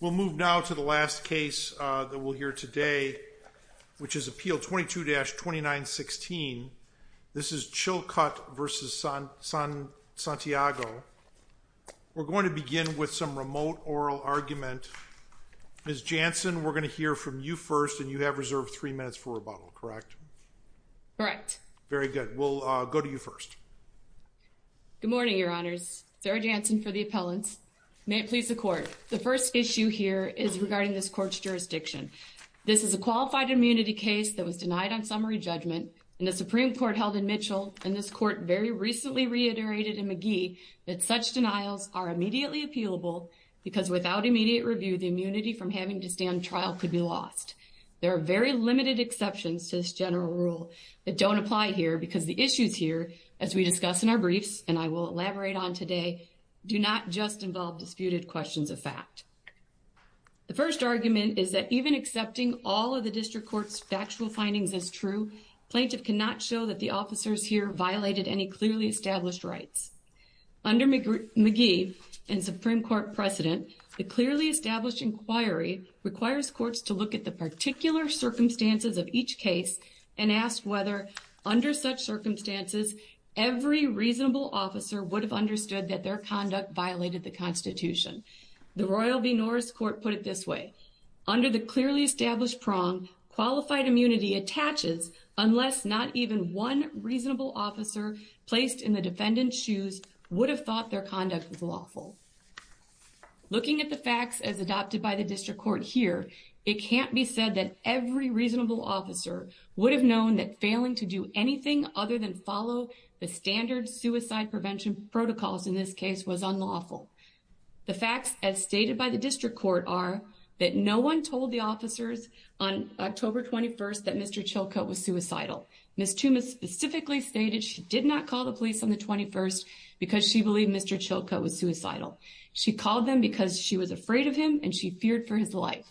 We'll move now to the last case that we'll hear today, which is Appeal 22-2916. This is Chilcutt v. Santiago. We're going to begin with some remote oral argument. Ms. Jansen, we're going to hear from you first, and you have reserved three minutes for rebuttal, correct? Correct. Very good. We'll go to you first. Good morning, Your Honors. Sarah Jansen for the appellants. May it please the Court, the first issue here is regarding this Court's jurisdiction. This is a qualified immunity case that was denied on summary judgment in the Supreme Court held in Mitchell, and this Court very recently reiterated in McGee that such denials are immediately appealable because without immediate review, the immunity from having to stand trial could be lost. There are very limited exceptions to this general rule that don't apply here because the issues here, as we discuss in our briefs and I will elaborate on today, do not just involve disputed questions of fact. The first argument is that even accepting all of the District Court's factual findings as true, plaintiff cannot show that the officers here violated any clearly established rights. Under McGee and Supreme Court precedent, the clearly established inquiry requires courts to look at the particular circumstances of each case and ask whether, under such circumstances, every reasonable officer would have understood that their conduct violated the Constitution. The Royal v. Norris Court put it this way, under the clearly established prong, qualified immunity attaches unless not even one reasonable officer placed in the defendant's shoes would have thought their conduct was lawful. Looking at the facts as adopted by the District Court here, it can't be said that every reasonable officer would have known that failing to do anything other than follow the standard suicide prevention protocols in this case was unlawful. The facts as stated by the District Court are that no one told the officers on October 21st that Mr. Chilcote was suicidal. Ms. Tuma specifically stated she did not call the police on the 21st because she believed Mr. Chilcote was suicidal. She called them because she was afraid of him and she feared for his life.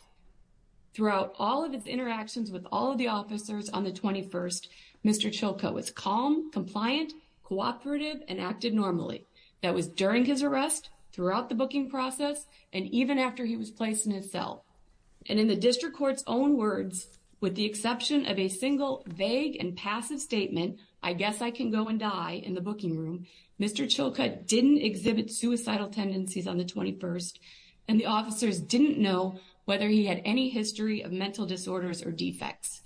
Throughout all of its interactions with all of the officers on the 21st, Mr. Chilcote was calm, compliant, cooperative, and acted normally. That was during his arrest, throughout the booking process, and even after he was placed in his cell. And in the District Court's own words, with the exception of a single vague and passive statement, I guess I can go and die, in the booking room, Mr. Chilcote didn't exhibit suicidal tendencies on the 21st, and the officers didn't know whether he had any history of mental disorders or defects.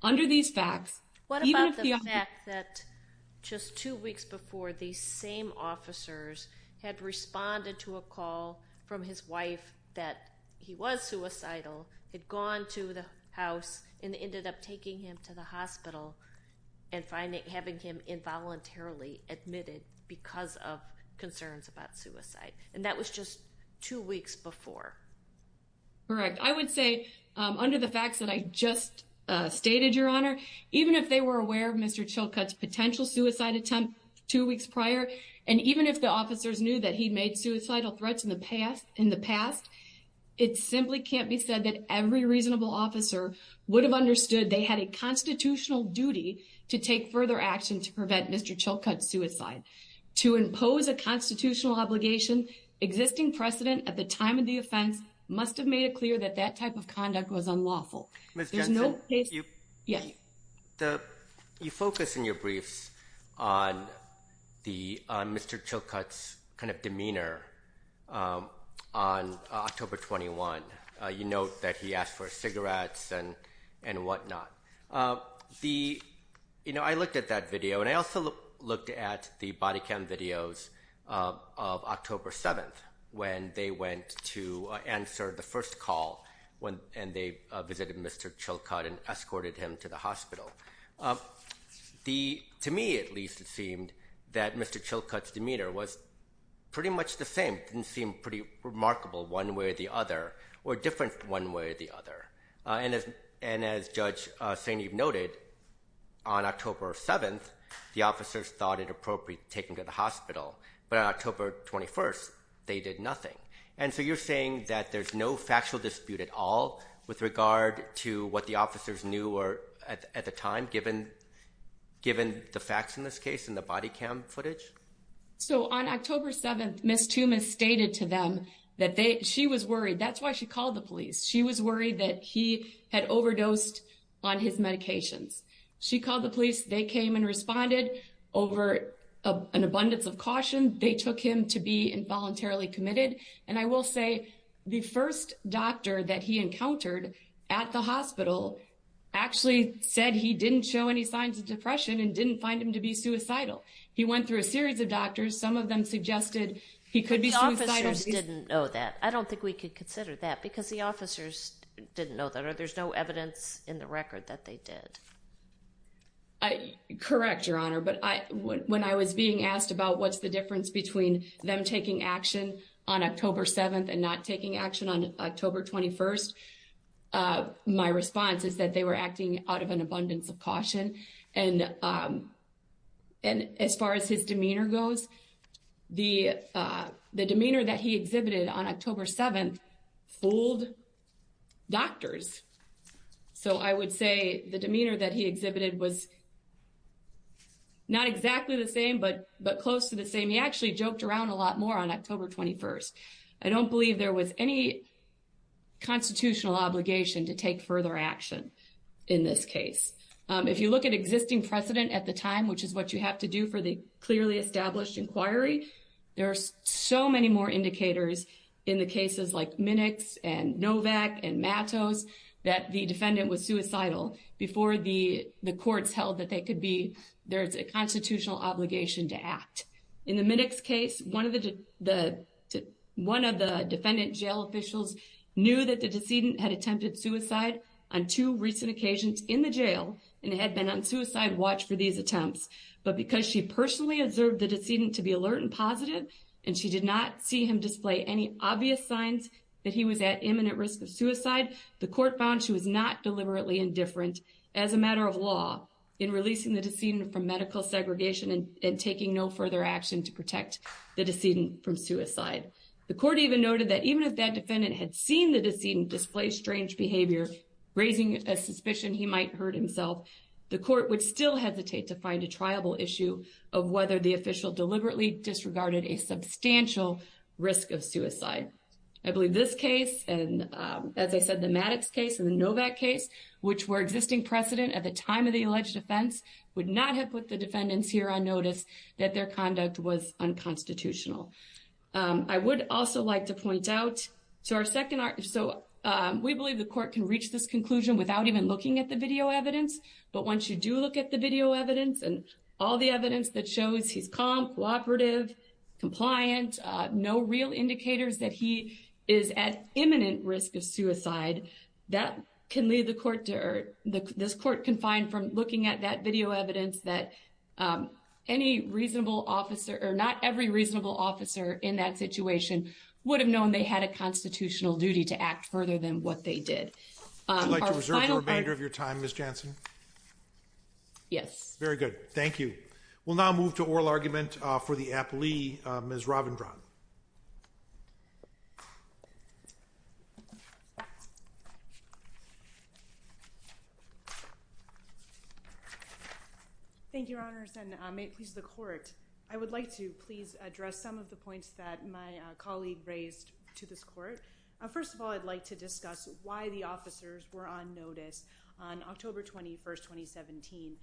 What about the fact that just two weeks before, these same officers had responded to a call from his wife that he was suicidal, had gone to the house, and ended up taking him to the hospital and having him involuntarily admitted because of concerns about suicide? And that was just two weeks before? Correct. I would say, under the facts that I just stated, Your Honor, even if they were aware of Mr. Chilcote's potential suicide attempt two weeks prior, and even if the officers knew that he'd made suicidal threats in the past, it simply can't be said that every reasonable officer would have understood they had a constitutional duty to take further action to prevent Mr. Chilcote's suicide. To impose a constitutional obligation, existing precedent at the time of the offense must have made it clear that that type of conduct was unlawful. Ms. Jensen, you focus in your briefs on Mr. Chilcote's kind of demeanor on October 21. You note that he asked for cigarettes and whatnot. I looked at that video, and I also looked at the body cam videos of October 7th, when they went to answer the first call, and they visited Mr. Chilcote and escorted him to the hospital. To me, at least, it seemed that Mr. Chilcote's demeanor was pretty much the same. It didn't seem pretty remarkable one way or the other, or different one way or the other. And as Judge St. Eve noted, on October 7th, the officers thought it appropriate to take him to the hospital, but on October 21st, they did nothing. And so you're saying that there's no factual dispute at all with regard to what the officers knew at the time, given the facts in this case and the body cam footage? So on October 7th, Ms. Tumas stated to them that she was worried. That's why she called the police. She was worried that he had overdosed on his medications. She called the police. They came and responded over an abundance of caution. They took him to be involuntarily committed. And I will say, the first doctor that he encountered at the hospital actually said he didn't show any signs of depression and didn't find him to be suicidal. He went through a series of doctors. Some of them suggested he could be suicidal. But the officers didn't know that. I don't think we could consider that, because the officers didn't know that, or there's no evidence in the record that they did. Correct, Your Honor, but when I was being asked about what's the difference between them taking action on October 7th and not taking action on October 21st, my response is that they were acting out of an abundance of caution. And as far as his demeanor goes, the demeanor that he exhibited on October 7th fooled doctors. So I would say the demeanor that he exhibited was not exactly the same, but close to the same. He actually joked around a lot more on October 21st. I don't believe there was any constitutional obligation to take further action in this case. If you look at existing precedent at the time, which is what you have to do for the clearly established inquiry, there are so many more indicators in the cases like Minix and Novak and Matos that the defendant was suicidal before the courts held that there's a constitutional obligation to act. In the Minix case, one of the defendant jail officials knew that the decedent had attempted suicide on two recent occasions in the jail and had been on suicide watch for these attempts. But because she personally observed the decedent to be alert and positive, and she did not see him display any obvious signs that he was at imminent risk of suicide, the court found she was not deliberately indifferent as a matter of law in releasing the decedent from medical segregation and taking no further action to protect the decedent from suicide. The court even noted that even if that defendant had seen the decedent display strange behavior, raising a suspicion he might hurt himself, the court would still hesitate to find a triable issue of whether the official deliberately disregarded a substantial risk of suicide. I believe this case, and as I said, the Matos case and the Novak case, which were existing precedent at the time of the alleged offense, would not have put the defendants here on notice that their conduct was unconstitutional. I would also like to point out, so we believe the court can reach this conclusion without even looking at the video evidence. But once you do look at the video evidence and all the evidence that shows he's calm, cooperative, compliant, no real indicators that he is at imminent risk of suicide, that can lead the court to, or this court can find from looking at that video evidence that any reasonable officer, or not every reasonable officer in that situation would have known they had a constitutional duty to act further than what they did. I'd like to reserve the remainder of your time, Ms. Jansen. Yes. Very good. Thank you. We'll now move to oral argument for the appellee, Ms. Ravindran. Thank you, Your Honors, and may it please the court. I would like to please address some of the points that my colleague raised to this court. First of all, I'd like to discuss why the officers were on notice on October 21, 2017.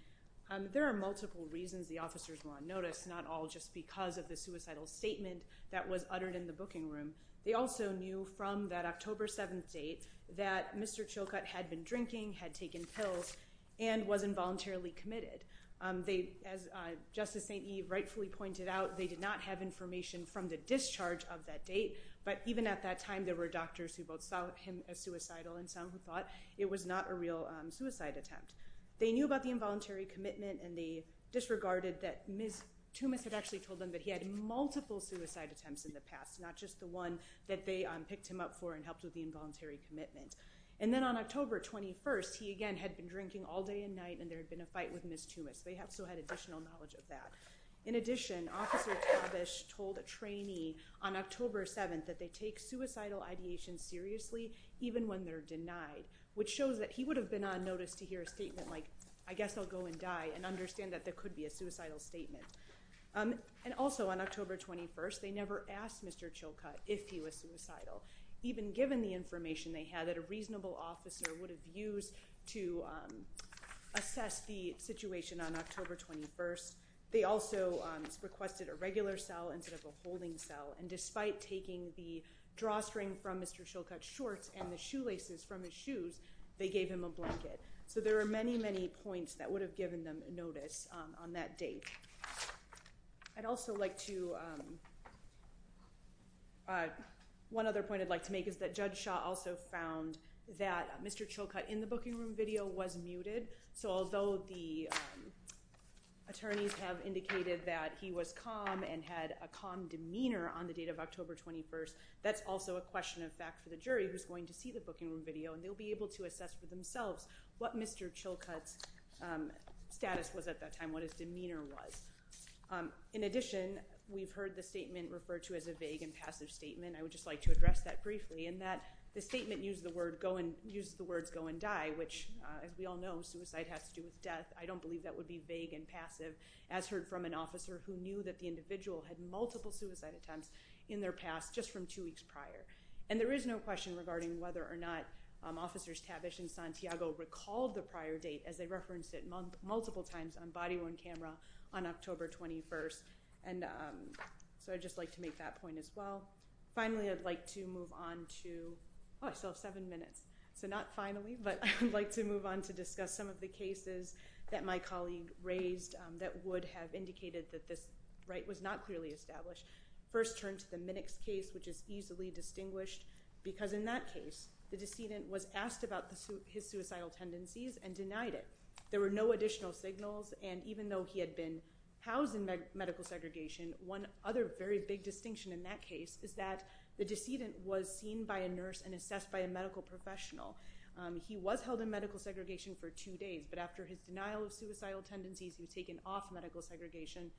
There are multiple reasons the officers were on notice, not all just because of the suicidal statement that was uttered in the booking room. They also knew from that October 7th date that Mr. Chilcutt had been drinking, had taken pills, and was involuntarily committed. As Justice St. Eve rightfully pointed out, they did not have information from the discharge of that date. But even at that time, there were doctors who both saw him as suicidal and some who thought it was not a real suicide attempt. They knew about the involuntary commitment, and they disregarded that Ms. Toomis had actually told them that he had multiple suicide attempts in the past, not just the one that they picked him up for and helped with the involuntary commitment. And then on October 21st, he again had been drinking all day and night, and there had been a fight with Ms. Toomis. They still had additional knowledge of that. In addition, Officer Tabish told a trainee on October 7th that they take suicidal ideation seriously even when they're denied, which shows that he would have been on notice to hear a statement like, I guess I'll go and die, and understand that there could be a suicidal statement. And also on October 21st, they never asked Mr. Chilcutt if he was suicidal, even given the information they had that a reasonable officer would have used to assess the situation on October 21st. They also requested a regular cell instead of a holding cell, and despite taking the drawstring from Mr. Chilcutt's shorts and the shoelaces from his shoes, they gave him a blanket. So there are many, many points that would have given them notice on that date. I'd also like to – one other point I'd like to make is that Judge Shaw also found that Mr. Chilcutt in the booking room video was muted, so although the attorneys have indicated that he was calm and had a calm demeanor on the date of October 21st, that's also a question of fact for the jury who's going to see the booking room video, and they'll be able to assess for themselves what Mr. Chilcutt's status was at that time, what his demeanor was. In addition, we've heard the statement referred to as a vague and passive statement. I would just like to address that briefly in that the statement used the words go and die, which as we all know, suicide has to do with death. I don't believe that would be vague and passive, as heard from an officer who knew that the individual had multiple suicide attempts in their past just from two weeks prior. And there is no question regarding whether or not Officers Tabish and Santiago recalled the prior date, as they referenced it multiple times on body-worn camera on October 21st, and so I'd just like to make that point as well. Finally, I'd like to move on to – oh, I still have seven minutes, so not finally, but I would like to move on to discuss some of the cases that my colleague raised that would have indicated that this right was not clearly established. First, turn to the Minnix case, which is easily distinguished because in that case, the decedent was asked about his suicidal tendencies and denied it. There were no additional signals, and even though he had been housed in medical segregation, one other very big distinction in that case is that the decedent was seen by a nurse and assessed by a medical professional. He was held in medical segregation for two days, but after his denial of suicidal tendencies, he was taken off medical segregation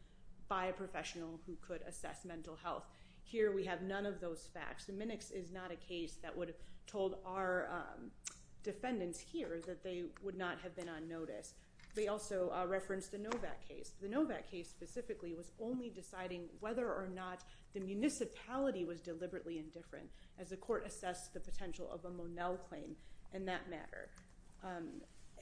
by a professional who could assess mental health. Here we have none of those facts. The Minnix is not a case that would have told our defendants here that they would not have been on notice. They also referenced the Novak case. The Novak case specifically was only deciding whether or not the municipality was deliberately indifferent as the court assessed the potential of a Monell claim in that matter,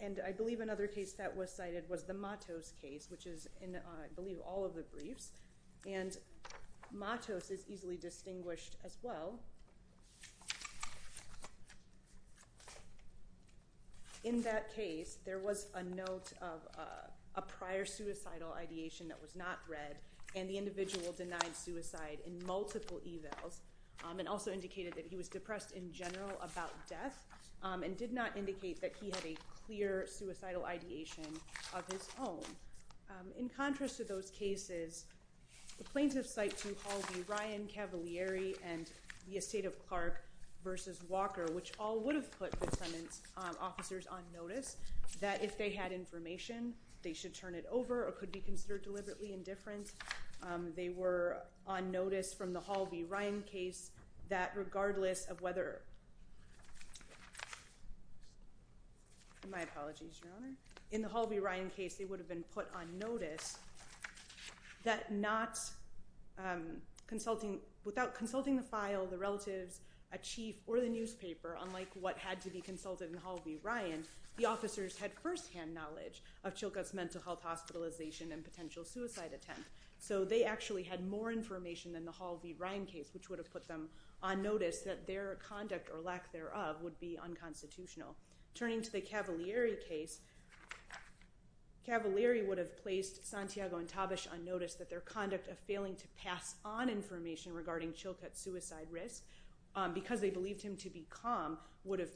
and I believe another case that was cited was the Matos case, which is in, I believe, all of the briefs, and Matos is easily distinguished as well. In that case, there was a note of a prior suicidal ideation that was not read, and the individual denied suicide in multiple evals and also indicated that he was depressed in general about death and did not indicate that he had a clear suicidal ideation of his own. In contrast to those cases, the plaintiffs cite to Hall v. Ryan, Cavalieri, and the estate of Clark v. Walker, which all would have put defendant's officers on notice that if they had information, they should turn it over or could be considered deliberately indifferent. They were on notice from the Hall v. Ryan case that regardless of whether... My apologies, Your Honor. In the Hall v. Ryan case, it would have been put on notice that without consulting the file, the relatives, a chief, or the newspaper, unlike what had to be consulted in Hall v. Ryan, the officers had firsthand knowledge of Chilcott's mental health hospitalization and potential suicide attempt, so they actually had more information than the Hall v. Ryan case, which would have put them on notice that their conduct or lack thereof would be unconstitutional. Turning to the Cavalieri case, Cavalieri would have placed Santiago and Tabish on notice that their conduct of failing to pass on information regarding Chilcott's suicide risk because they believed him to be calm would have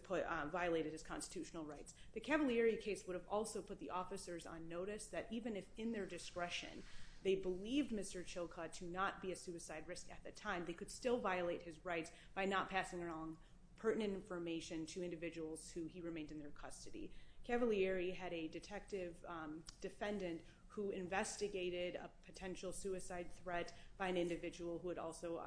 violated his constitutional rights. The Cavalieri case would have also put the officers on notice that even if in their discretion they believed Mr. Chilcott to not be a suicide risk at the time, they could still violate his rights by not passing on pertinent information to individuals who he remained in their custody. Cavalieri had a detective defendant who investigated a potential suicide threat by an individual who had also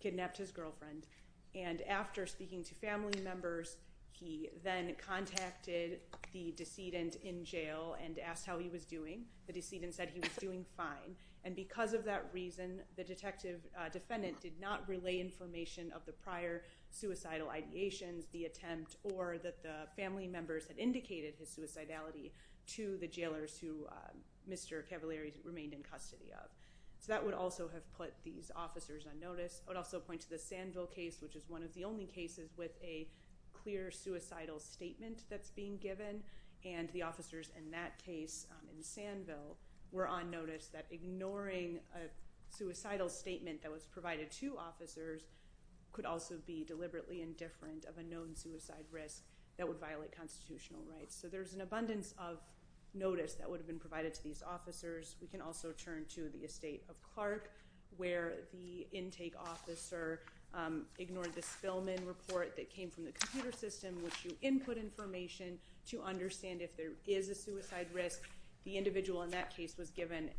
kidnapped his girlfriend, and after speaking to family members, he then contacted the decedent in jail and asked how he was doing. The decedent said he was doing fine, and because of that reason, the detective defendant did not relay information of the prior suicidal ideations, the attempt, or that the family members had indicated his suicidality to the jailers who Mr. Cavalieri remained in custody of. So that would also have put these officers on notice. I would also point to the Sandville case, which is one of the only cases with a clear suicidal statement that's being given, and the officers in that case in Sandville were on notice that ignoring a suicidal statement that was provided to officers could also be deliberately indifferent of a known suicide risk that would violate constitutional rights. So there's an abundance of notice that would have been provided to these officers. We can also turn to the estate of Clark, where the intake officer ignored the Spillman report that came from the computer system, which you input information to understand if there is a suicide risk. The individual in that case was given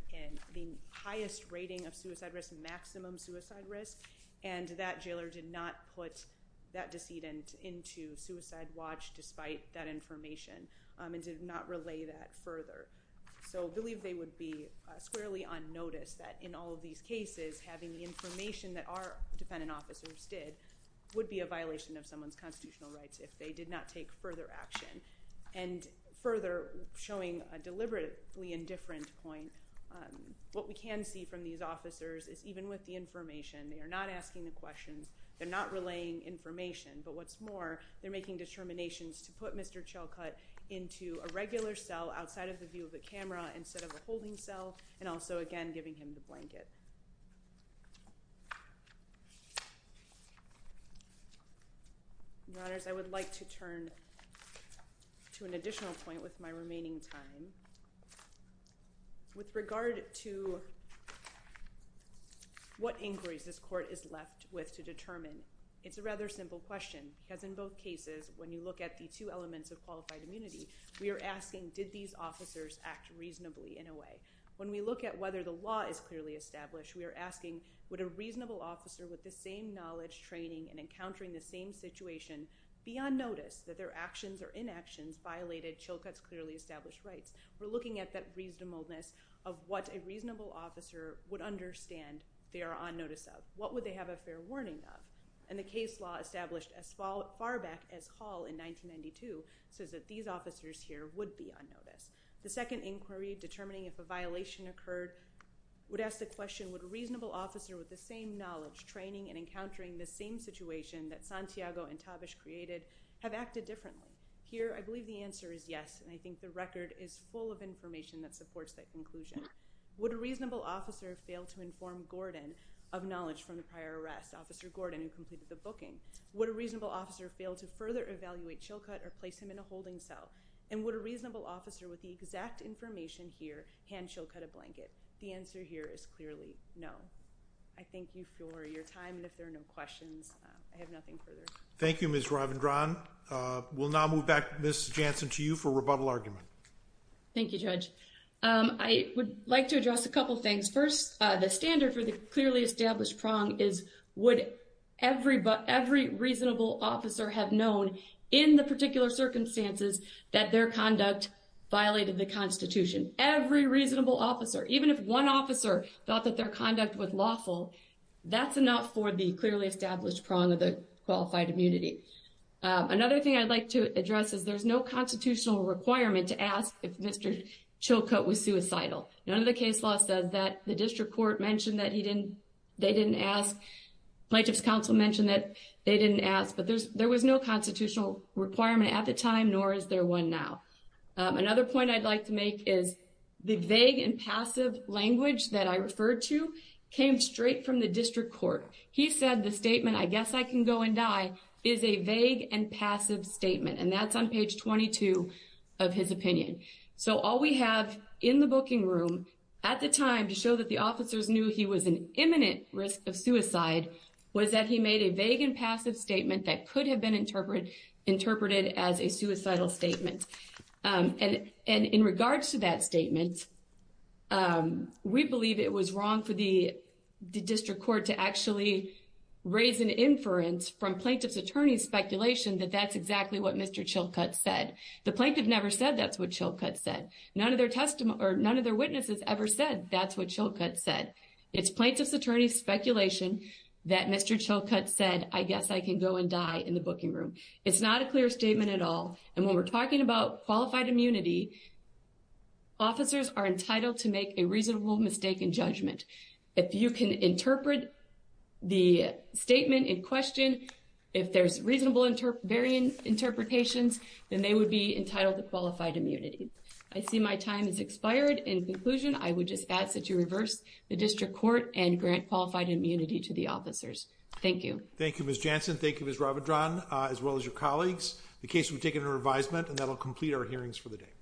the highest rating of suicide risk, maximum suicide risk, and that jailer did not put that decedent into suicide watch despite that information and did not relay that further. So I believe they would be squarely on notice that in all of these cases, having the information that our defendant officers did would be a violation of someone's constitutional rights if they did not take further action. And further, showing a deliberately indifferent point, what we can see from these officers is even with the information, they are not asking the questions, they're not relaying information, but what's more, they're making determinations to put Mr. Chilcutt into a regular cell outside of the view of the camera instead of a holding cell and also, again, giving him the blanket. Your Honors, I would like to turn to an additional point with my remaining time. With regard to what inquiries this court is left with to determine, it's a rather simple question because in both cases, when you look at the two elements of qualified immunity, we are asking did these officers act reasonably in a way? When we look at whether the law is clearly established, we are asking would a reasonable officer with the same knowledge, training, and encountering the same situation be on notice that their actions or inactions violated Chilcutt's clearly established rights? We're looking at that reasonableness of what a reasonable officer would understand they are on notice of. What would they have a fair warning of? And the case law established as far back as Hall in 1992 says that these officers here would be on notice. The second inquiry determining if a violation occurred would ask the question would a reasonable officer with the same knowledge, training, and encountering the same situation that Santiago and Tabish created have acted differently? Here, I believe the answer is yes, and I think the record is full of information that supports that conclusion. Would a reasonable officer fail to inform Gordon of knowledge from the prior arrest, Officer Gordon, who completed the booking? Would a reasonable officer fail to further evaluate Chilcutt or place him in a holding cell? And would a reasonable officer with the exact information here hand Chilcutt a blanket? The answer here is clearly no. I thank you for your time, and if there are no questions, I have nothing further. Thank you, Ms. Ravendran. We'll now move back, Ms. Jansen, to you for rebuttal argument. Thank you, Judge. I would like to address a couple things. First, the standard for the clearly established prong is would every reasonable officer have known in the particular circumstances that their conduct violated the Constitution? Every reasonable officer, even if one officer thought that their conduct was lawful, that's enough for the clearly established prong of the qualified immunity. Another thing I'd like to address is there's no constitutional requirement to ask if Mr. Chilcutt was suicidal. None of the case law says that. The district court mentioned that they didn't ask. Plaintiff's counsel mentioned that they didn't ask, but there was no constitutional requirement at the time, nor is there one now. Another point I'd like to make is the vague and passive language that I referred to came straight from the district court. He said the statement, I guess I can go and die, is a vague and passive statement, and that's on page 22 of his opinion. So all we have in the booking room at the time to show that the officers knew he was an imminent risk of suicide was that he made a vague and passive statement that could have been interpreted as a suicidal statement. And in regards to that statement, we believe it was wrong for the district court to actually raise an inference from plaintiff's attorney's speculation that that's exactly what Mr. Chilcutt said. The plaintiff never said that's what Chilcutt said. None of their witnesses ever said that's what Chilcutt said. It's plaintiff's attorney's speculation that Mr. Chilcutt said, I guess I can go and die in the booking room. It's not a clear statement at all, and when we're talking about qualified immunity, officers are entitled to make a reasonable mistake in judgment. If you can interpret the statement in question, if there's reasonable varying interpretations, then they would be entitled to qualified immunity. I see my time has expired. In conclusion, I would just ask that you reverse the district court and grant qualified immunity to the officers. Thank you. Thank you, Ms. Jansen. Thank you, Ms. Ravidran, as well as your colleagues. The case will be taken to revisement, and that will complete our hearings for the day.